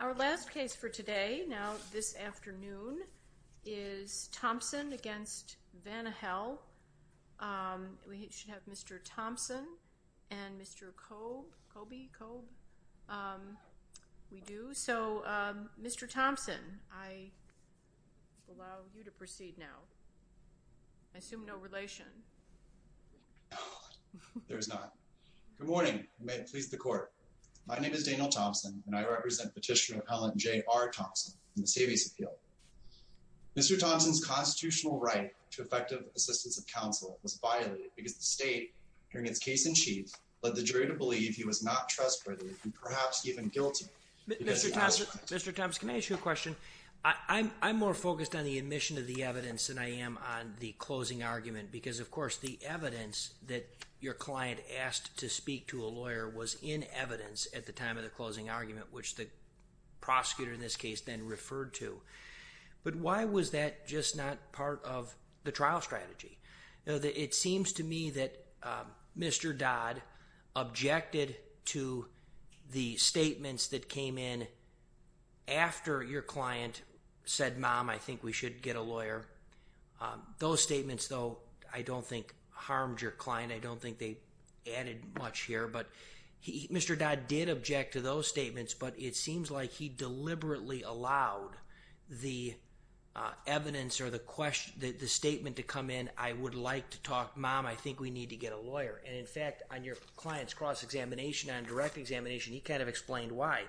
Our last case for today, now this afternoon, is Thompson against Vanihel. We should have Mr. Thompson and Mr. Cobe. Coby, Cobe? We do. So Mr. Thompson, I will allow you to proceed now. I assume no relation. There is not. Good morning. May it please the court. My name is Daniel Thompson, and I represent Petitioner Appellant J.R. Thompson in the Savings Appeal. Mr. Thompson's constitutional right to effective assistance of counsel was violated because the state, during its case in chief, led the jury to believe he was not trustworthy and perhaps even guilty. Mr. Thompson, can I ask you a question? I'm more focused on the admission of the evidence than I am on the closing argument. Because of course, the evidence that your client asked to speak to a lawyer was in evidence at the time of the closing argument, which the prosecutor in this case then referred to. But why was that just not part of the trial strategy? It seems to me that Mr. Dodd objected to the statements that came in after your client said, mom, I think we should get a lawyer. Those statements, though, I don't think harmed your client. I don't think they added much here. But Mr. Dodd did object to those statements. But it seems like he deliberately allowed the evidence or the statement to come in, I would like to talk, mom, I think we need to get a lawyer. And in fact, on your client's cross-examination, on direct examination, he kind of explained why.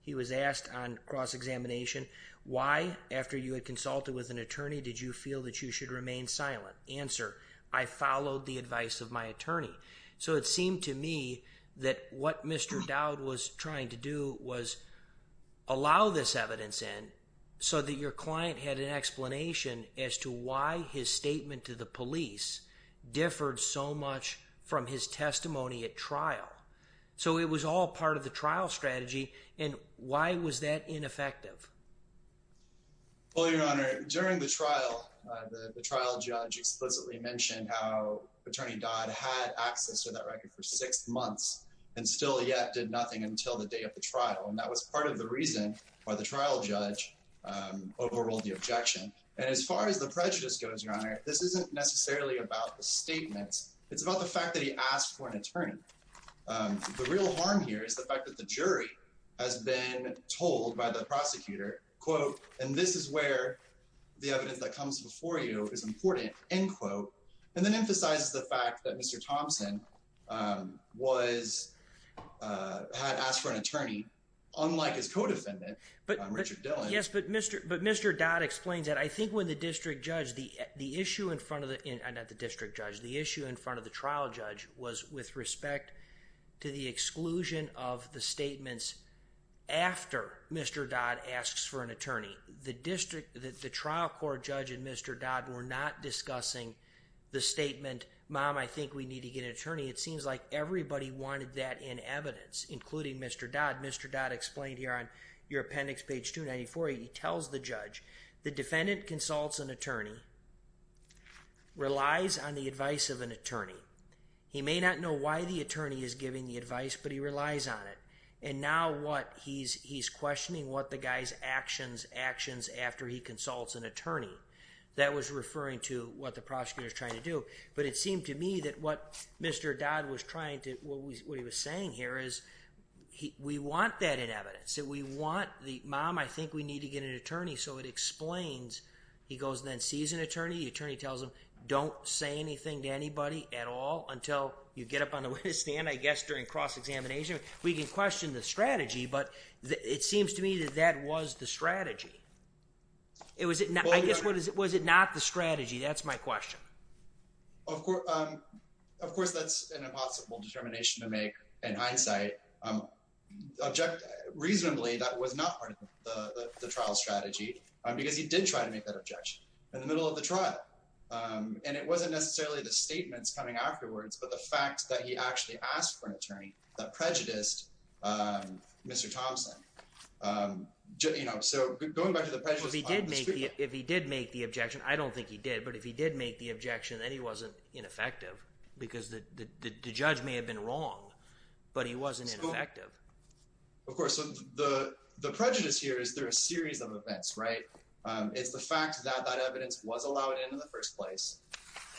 He was asked on cross-examination, why, after you had consulted with an attorney, did you feel that you should remain silent? Answer, I followed the advice of my attorney. So it seemed to me that what Mr. Dodd was trying to do was allow this evidence in so that your client had an explanation as to why his statement to the police differed so much from his testimony at trial. So it was all part of the trial strategy. And why was that ineffective? Well, Your Honor, during the trial, the trial judge explicitly mentioned how Attorney Dodd had access to that record for six months and still yet did nothing until the day of the trial. And that was part of the reason why the trial judge overruled the objection. And as far as the prejudice goes, Your Honor, this isn't necessarily about the statements. It's about the fact that he asked for an attorney. The real harm here is the fact that the jury has been told by the prosecutor, quote, and this is where the evidence that comes before you is important, end quote, and then emphasizes the fact that Mr. Thompson had asked for an attorney, unlike his co-defendant, Richard Dillon. Yes, but Mr. Dodd explains that. I think when the district judge, the issue in front of the trial judge was with respect to the exclusion of the statements after Mr. Dodd asks for an attorney. The district, the trial court judge and Mr. Dodd were not discussing the statement, mom, I think we need to get an attorney. It seems like everybody wanted that in evidence, including Mr. Dodd. Mr. Dodd explained here on your appendix, page 294, he tells the judge, the defendant consults an attorney, relies on the advice of an attorney. He may not know why the attorney is giving the advice, but he relies on it. And now what he's questioning, what the guy's actions, actions after he consults an attorney. That was referring to what the prosecutor is trying to do. But it seemed to me that what Mr. Dodd was trying to, what he was saying here is, we want that in evidence. We want the, mom, I think we need to get an attorney. So it explains, he goes and then sees an attorney. The attorney tells him, don't say anything to anybody at all until you get up on the witness stand, I guess, during cross-examination. We can question the strategy, but it seems to me that that was the strategy. I guess, was it not the strategy? That's my question. Of course, that's an impossible determination to make in hindsight. Reasonably, that was not part of the trial strategy, because he did try to make that objection in the middle of the trial. And it wasn't necessarily the statements coming afterwards, but the fact that he actually asked for an attorney that prejudiced Mr. Thompson. So going back to the prejudice on the statement. If he did make the objection, I don't think he did, but if he did make the objection, then he wasn't ineffective. Because the judge may have been wrong, but he wasn't ineffective. Of course, so the prejudice here is there are a series of events, right? It's the fact that that evidence was allowed in in the first place,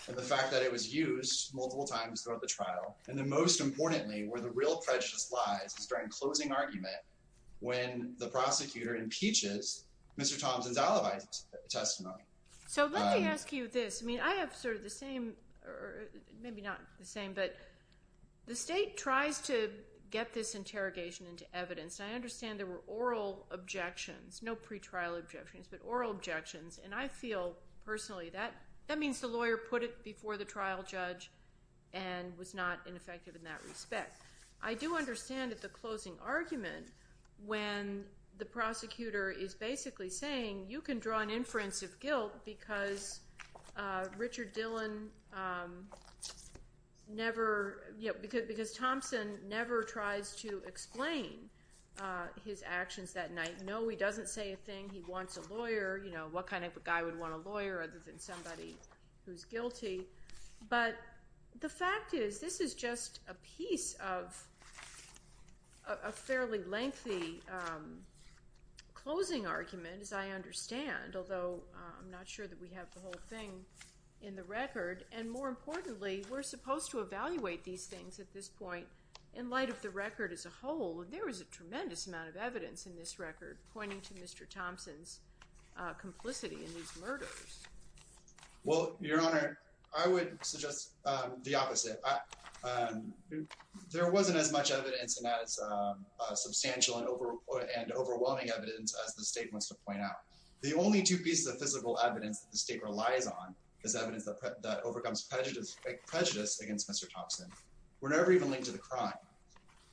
and the fact that it was used multiple times throughout the trial, and then most importantly, where the real prejudice lies is during closing argument, when the prosecutor impeaches Mr. Thompson's alibi testimony. So let me ask you this. I mean, I have sort of the same, or maybe not the same, but the state tries to get this interrogation into evidence. I understand there were oral objections, no pretrial objections, but oral objections. And I feel, personally, that means the lawyer put it before the trial judge and was not ineffective in that respect. I do understand that the closing argument, when the prosecutor is basically saying, you can draw an inference of guilt because Richard Dillon never, because Thompson never tries to explain his actions that night. He wants a lawyer. What kind of a guy would want a lawyer other than somebody who's guilty? But the fact is, this is just a piece of a fairly lengthy closing argument, as I understand, although I'm not sure that we have the whole thing in the record. And more importantly, we're supposed to evaluate these things at this point in light of the record as a whole. And there was a tremendous amount of evidence in this record pointing to Mr. Thompson's complicity in these murders. Well, Your Honor, I would suggest the opposite. There wasn't as much evidence and as substantial and overwhelming evidence as the state wants to point out. The only two pieces of physical evidence that the state relies on is evidence that overcomes prejudice against Mr. Thompson. We're never even linked to the crime.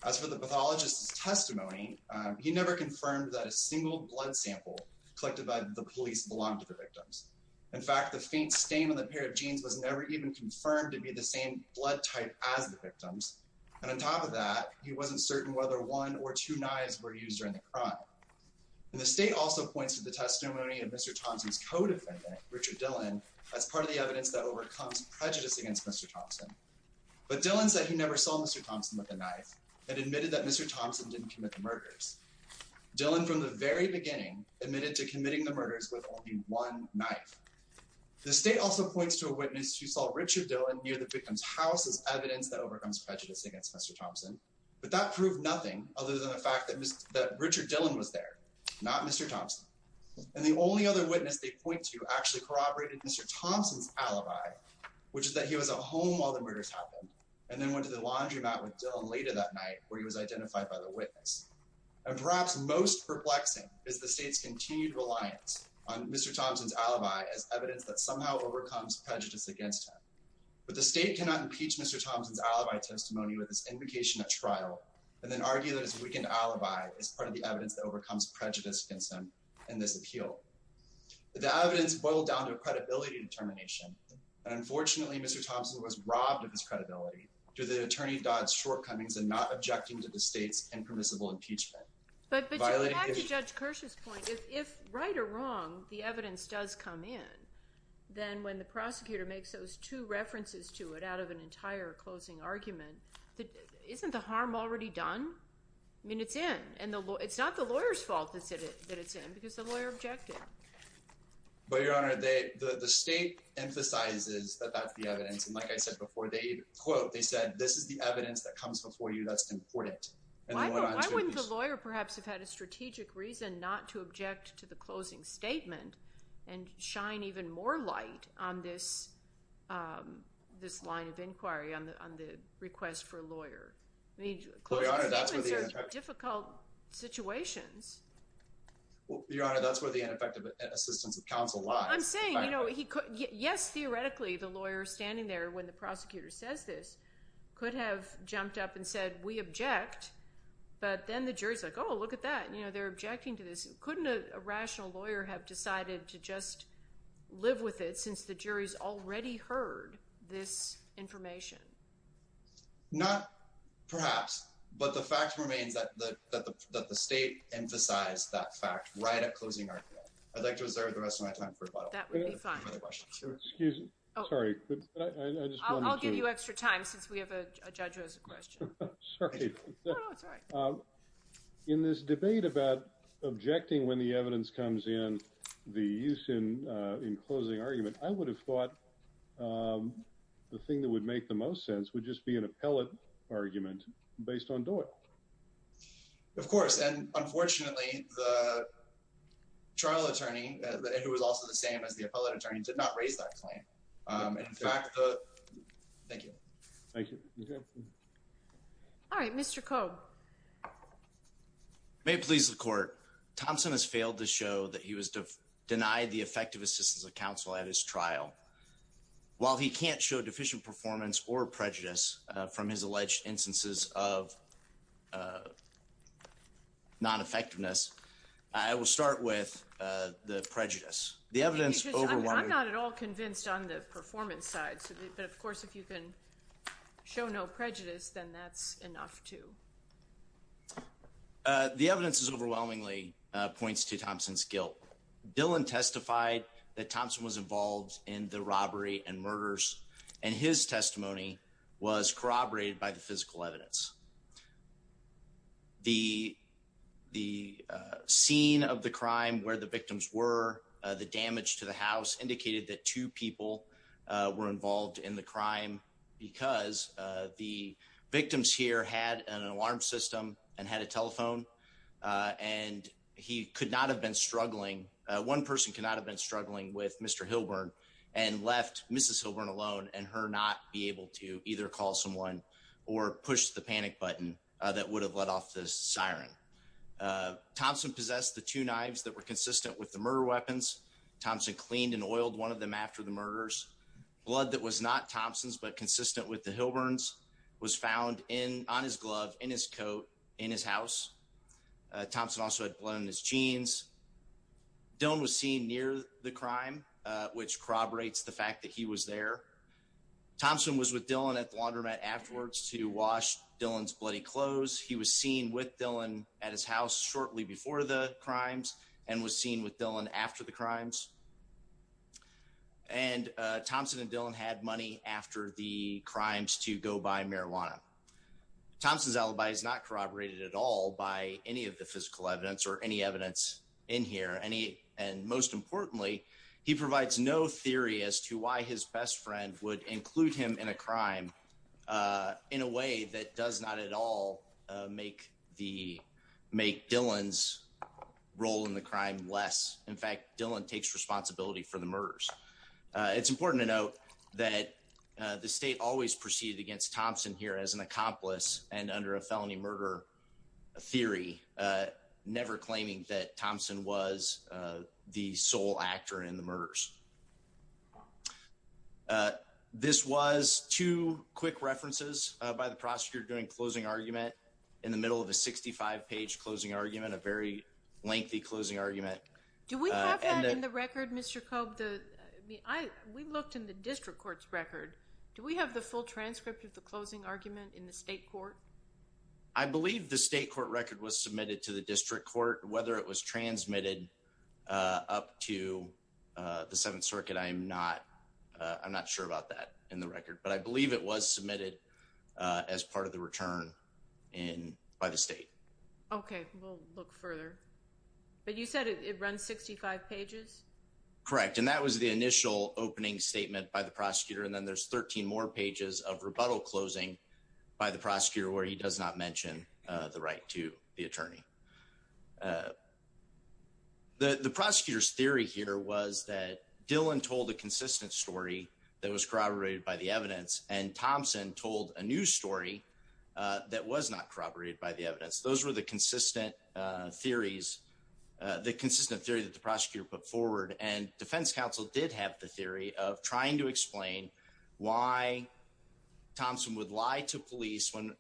As for the pathologist's testimony, he never confirmed that a single blood sample collected by the police belonged to the victims. In fact, the faint stain on the pair of jeans was never even confirmed to be the same blood type as the victims. And on top of that, he wasn't certain whether one or two knives were used during the crime. And the state also points to the testimony of Mr. Thompson's co-defendant, Richard Dillon, as part of the evidence that overcomes prejudice against Mr. Thompson. But Dillon said he never saw Mr. Thompson with a knife and admitted that Mr. Thompson didn't commit the murders. Dillon, from the very beginning, admitted to committing the murders with only one knife. The state also points to a witness who saw Richard Dillon near the victim's house as evidence that overcomes prejudice against Mr. Thompson, but that proved nothing other than the fact that Richard Dillon was there, not Mr. Thompson. And the only other witness they point to actually corroborated Mr. Thompson's alibi, which is that he was at home while the murders happened and then went to the laundromat with Dillon later that night where he was identified by the witness. And perhaps most perplexing is the state's continued reliance on Mr. Thompson's alibi as evidence that somehow overcomes prejudice against him. But the state cannot impeach Mr. Thompson's alibi testimony with this invocation at trial and then argue that his weakened alibi is part of the evidence that overcomes prejudice against him in this appeal. The evidence boiled down to a credibility determination. And unfortunately, Mr. Thompson was robbed of his credibility due to the attorney Dodd's shortcomings in not objecting to the state's impermissible impeachment. But back to Judge Kirsch's point, if right or wrong, the evidence does come in, then when the prosecutor makes those two references to it out of an entire closing argument, isn't the harm already done? I mean, it's in. It's not the lawyer's fault that it's in because the lawyer objected. But, Your Honor, the state emphasizes that that's the evidence. And like I said before, they quote, they said, this is the evidence that comes before you that's important. And they went on to... Why wouldn't the lawyer perhaps have had a strategic reason not to object to the closing statement and shine even more light on this line of inquiry, on the request for a lawyer? I mean, closing statements are difficult situations. Your Honor, that's where the ineffective assistance of counsel lies. I'm saying, you know, yes, theoretically, the lawyer standing there when the prosecutor says this could have jumped up and said, we object. But then the jury's like, oh, look at that. You know, they're objecting to this. Couldn't a rational lawyer have decided to just live with it since the jury's already heard this information? Not perhaps, but the fact remains that the state emphasized that fact right at closing argument. I'd like to reserve the rest of my time for rebuttal. That would be fine. Excuse me. Sorry. I just wanted to... I'll give you extra time since we have a judge who has a question. Sorry. No, no, it's all right. In this debate about objecting when the evidence comes in, the use in closing argument, I would have thought the thing that would make the most sense would just be an appellate argument based on Doyle. Of course. And unfortunately, the trial attorney, who was also the same as the appellate attorney, did not raise that claim. In fact, the... Thank you. Thank you. All right. Mr. Cobe. May it please the court. Thompson has failed to show that he was denied the effective assistance of counsel at his trial. While he can't show deficient performance or prejudice from his alleged instances of non-effectiveness, I will start with the prejudice. The evidence... I'm not at all convinced on the performance side. But of course, if you can show no prejudice, then that's enough, too. The evidence overwhelmingly points to Thompson's guilt. Dillon testified that Thompson was involved in the robbery and murders, and his testimony was corroborated by the physical evidence. The scene of the crime where the victims were, the damage to the house, indicated that two people were involved in the crime because the victims here had an alarm system and had a telephone, and he could not have been struggling. One person could not have been struggling with Mr. Hilburn and left Mrs. Hilburn alone and her not be able to either call someone or push the panic button that would have let off the siren. Thompson possessed the two knives that were consistent with the murder weapons. Thompson cleaned and oiled one of them after the murders. Blood that was not Thompson's but consistent with the Hilburn's was found on his glove, in his coat, in his house. Thompson also had blood on his jeans. Dillon was seen near the crime, which corroborates the fact that he was there. Thompson was with Dillon at the laundromat afterwards to wash Dillon's bloody clothes. He was seen with Dillon at his house shortly before the crimes and was seen with Dillon after the crimes. And Thompson and Dillon had money after the crimes to go buy marijuana. Thompson's alibi is not corroborated at all by any of the physical evidence or any evidence in here. And most importantly, he provides no theory as to why his best friend would include him in a crime in a way that does not at all make Dillon's role in the crime less. In fact, Dillon takes responsibility for the murders. It's important to note that the state always proceeded against Thompson here as an accomplice and under a felony murder theory, never claiming that Thompson was the sole actor in the murders. This was two quick references by the prosecutor during closing argument in the middle of a 65-page closing argument, a very lengthy closing argument. Do we have that in the record, Mr. Cobb? We looked in the district court's record. Do we have the full transcript of the closing argument in the state court? I believe the state court record was submitted to the district court. Whether it was transmitted up to the Seventh Circuit, I'm not sure about that in the record. But I believe it was submitted as part of the return by the state. Okay. We'll look further. But you said it runs 65 pages? Correct. And that was the initial opening statement by the prosecutor. And then there's 13 more pages of rebuttal closing by the prosecutor where he does not mention the right to the attorney. The prosecutor's theory here was that Dillon told a consistent story that was corroborated by the evidence, and Thompson told a new story that was not corroborated by the evidence. Those were the consistent theories, the consistent theory that the prosecutor put forward. And defense counsel did have the theory of trying to explain why Thompson would lie to police on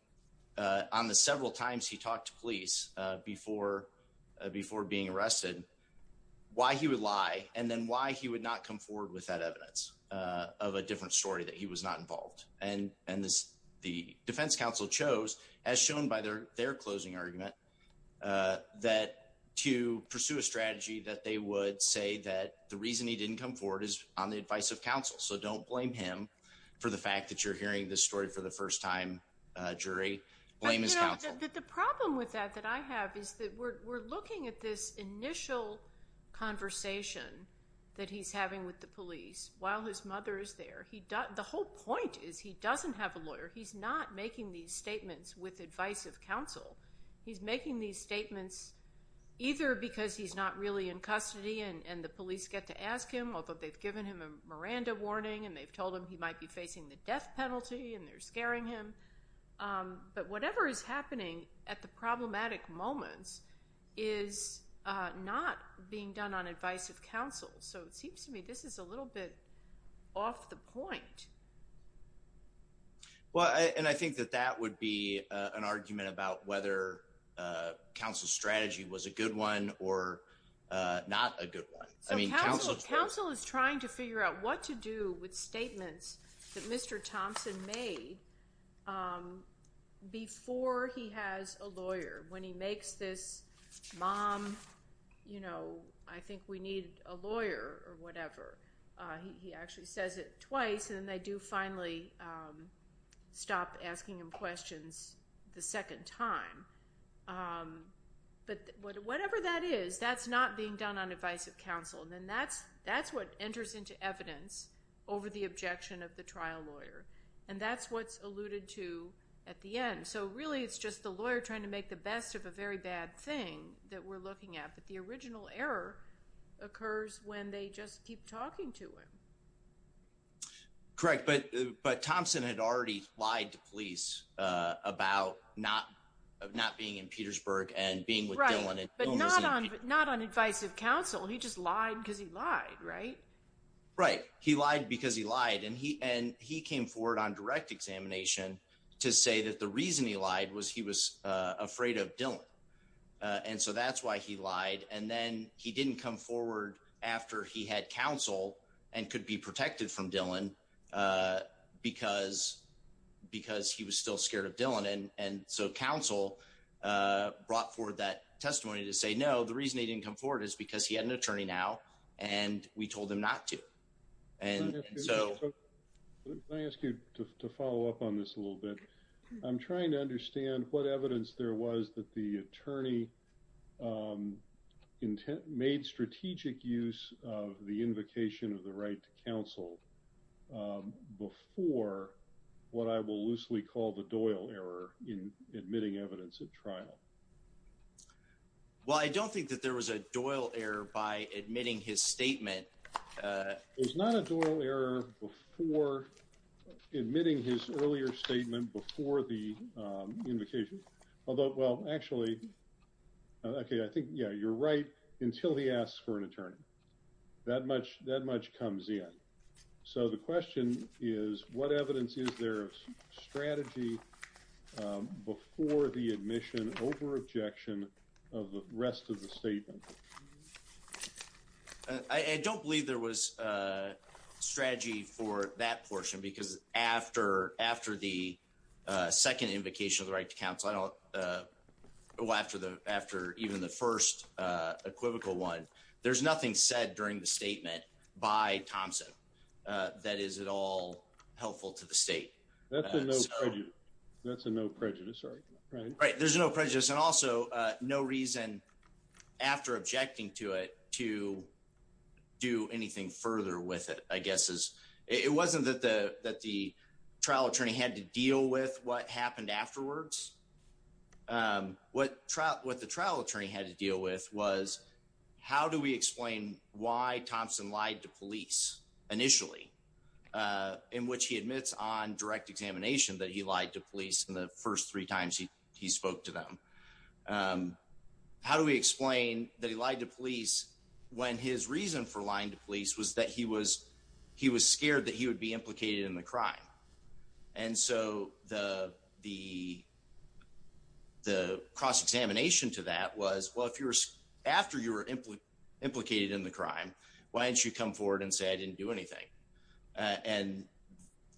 the several times he talked to police before being arrested, why he would lie, and then why he would not come forward with that evidence of a different story that he was not involved. And the defense counsel chose, as shown by their closing argument, that to pursue a strategy that they would say that the reason he didn't come forward is on the advice of counsel. So don't blame him for the fact that you're hearing this story for the first time, jury. Blame his counsel. The problem with that that I have is that we're looking at this initial conversation that he's having with the police while his mother is there. The whole point is he doesn't have a lawyer. He's not making these statements with advice of counsel. He's making these statements either because he's not really in custody and the police get to ask him, although they've given him a Miranda warning and they've told him he might be facing the death penalty and they're scaring him. But whatever is happening at the problematic moments is not being done on advice of counsel. So it seems to me, this is a little bit off the point. Well, and I think that that would be an argument about whether a counsel strategy was a good one or not a good one. I mean, counsel is trying to figure out what to do with statements that Mr. Thompson made before he has a lawyer, when he makes this mom, you know, I think we need a lawyer or whatever. He actually says it twice and then they do finally stop asking him questions the second time. But whatever that is, that's not being done on advice of counsel. And then that's, that's what enters into evidence over the objection of the trial lawyer. And that's what's alluded to at the end. So really it's just the lawyer trying to make the best of a very bad thing that we're looking at. But the original error occurs when they just keep talking to him. Correct. But, but Thompson had already lied to police about not, not being in Petersburg and being with Dylan. Not on advice of counsel. He just lied because he lied, right? Right. He lied because he lied and he, and he came forward on direct examination to say that the reason he lied was he was afraid of Dylan. And so that's why he lied. And then he didn't come forward after he had counsel and could be protected from Dylan because, because he was still scared of Dylan. And, and so counsel brought forward that testimony to say, no, the reason they didn't come forward is because he had an attorney now and we told him not to. And so I asked you to follow up on this a little bit. I'm trying to understand what evidence there was that the attorney intent made strategic use of the invocation of the right to counsel before what I will loosely call the Doyle error in admitting evidence at trial. Well, I don't think that there was a Doyle error by admitting his statement. It's not a Doyle error before admitting his earlier statement before the invocation, although, well, actually, okay. I think, yeah, you're right. Until he asks for an attorney that much, that much comes in. So the question is what evidence is there of strategy before the admission over objection of the rest of the statement? I don't believe there was a strategy for that portion because after, after the second invocation of the right to counsel, I don't go after the, after even the first equivocal one, there's nothing said during the statement by Thompson that is at all helpful to the state. That's a no prejudice, right? Right. There's no prejudice. And also no reason after objecting to it to do anything further with it, I guess is it wasn't that the, that the trial attorney had to deal with what happened afterwards. What trial, what the trial attorney had to deal with was how do we explain why Thompson lied to police initially in which he admits on direct examination that he lied to police. The first three times he spoke to them how do we explain that he lied to police when his reason for lying to police was that he was, he was scared that he would be implicated in the crime. And so the, the, the cross examination to that was, well, if you were, after you were implicated in the crime, why didn't you come forward and say, I didn't do anything. And,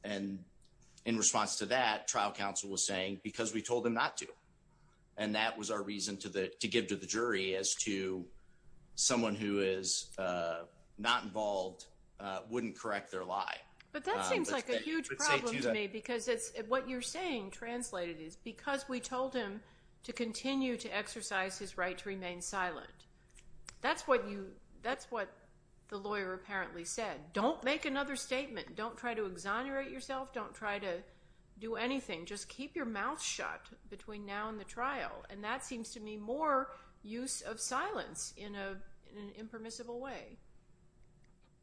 and in response to that, trial counsel was saying because we told them not to. And that was our reason to the, to give to the jury as to someone who is not involved wouldn't correct their lie. But that seems like a huge problem to me because it's what you're saying translated is because we told him to continue to exercise his right to remain silent. That's what you, that's what the lawyer apparently said. Don't make another statement. Don't try to exonerate yourself. Don't try to do anything. Just keep your mouth shut between now and the trial. And that seems to me more use of silence in a, in an impermissible way.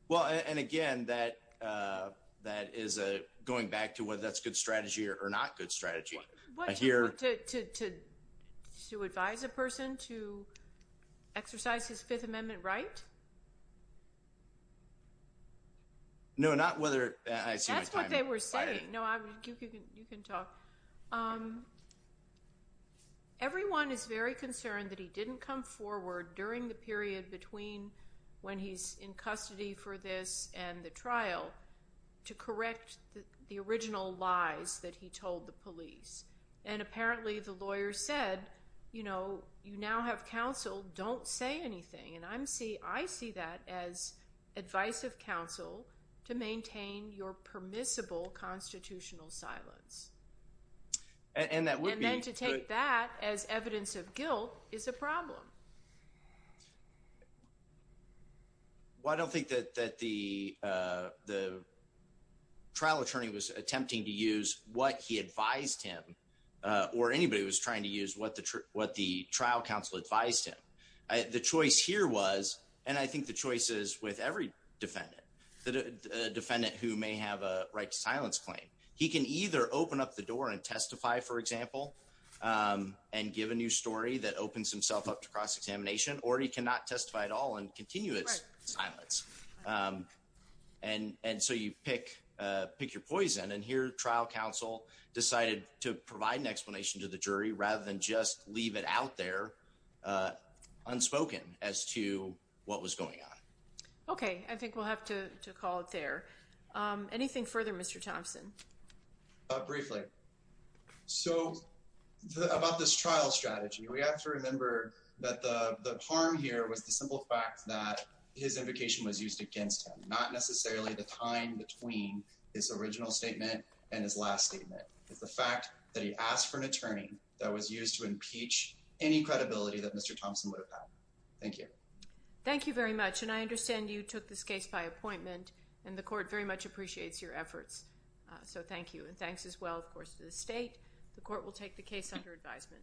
Well, and again, that that is a going back to whether that's good strategy or not good strategy. To advise a person to exercise his fifth amendment, right? No, not whether I see what they were saying. No, you can, you can talk. Everyone is very concerned that he didn't come forward during the period between when he's in custody for this and the trial to correct the original lies that he told the police. And apparently the lawyer said, you know, I'm see, I see that as advice of counsel to maintain your permissible constitutional silence. And that would, and then to take that as evidence of guilt is a problem. Well, I don't think that, that the the trial attorney was attempting to use what he advised him or anybody was trying to use what the, what the trial counsel advised him. The choice here was, and I think the choices with every defendant, the defendant who may have a right to silence claim, he can either open up the door and testify, for example, and give a new story that opens himself up to cross-examination or he cannot testify at all and continue its silence. And, and so you pick, pick your poison. And here trial counsel decided to provide an explanation to the jury rather than just leave it out there unspoken as to what was going on. Okay. I think we'll have to call it there. Anything further, Mr. Thompson? Briefly. So about this trial strategy, we have to remember that the harm here was the simple fact that his invocation was used against him, not necessarily the time between his original statement and his last statement is the fact that he asked for an attorney that was used to impeach any credibility that Mr. Thompson would have had. Thank you. Thank you very much. And I understand you took this case by appointment and the court very much appreciates your efforts. So thank you. And thanks as well, of course, to the state, the court will take the case under advisement.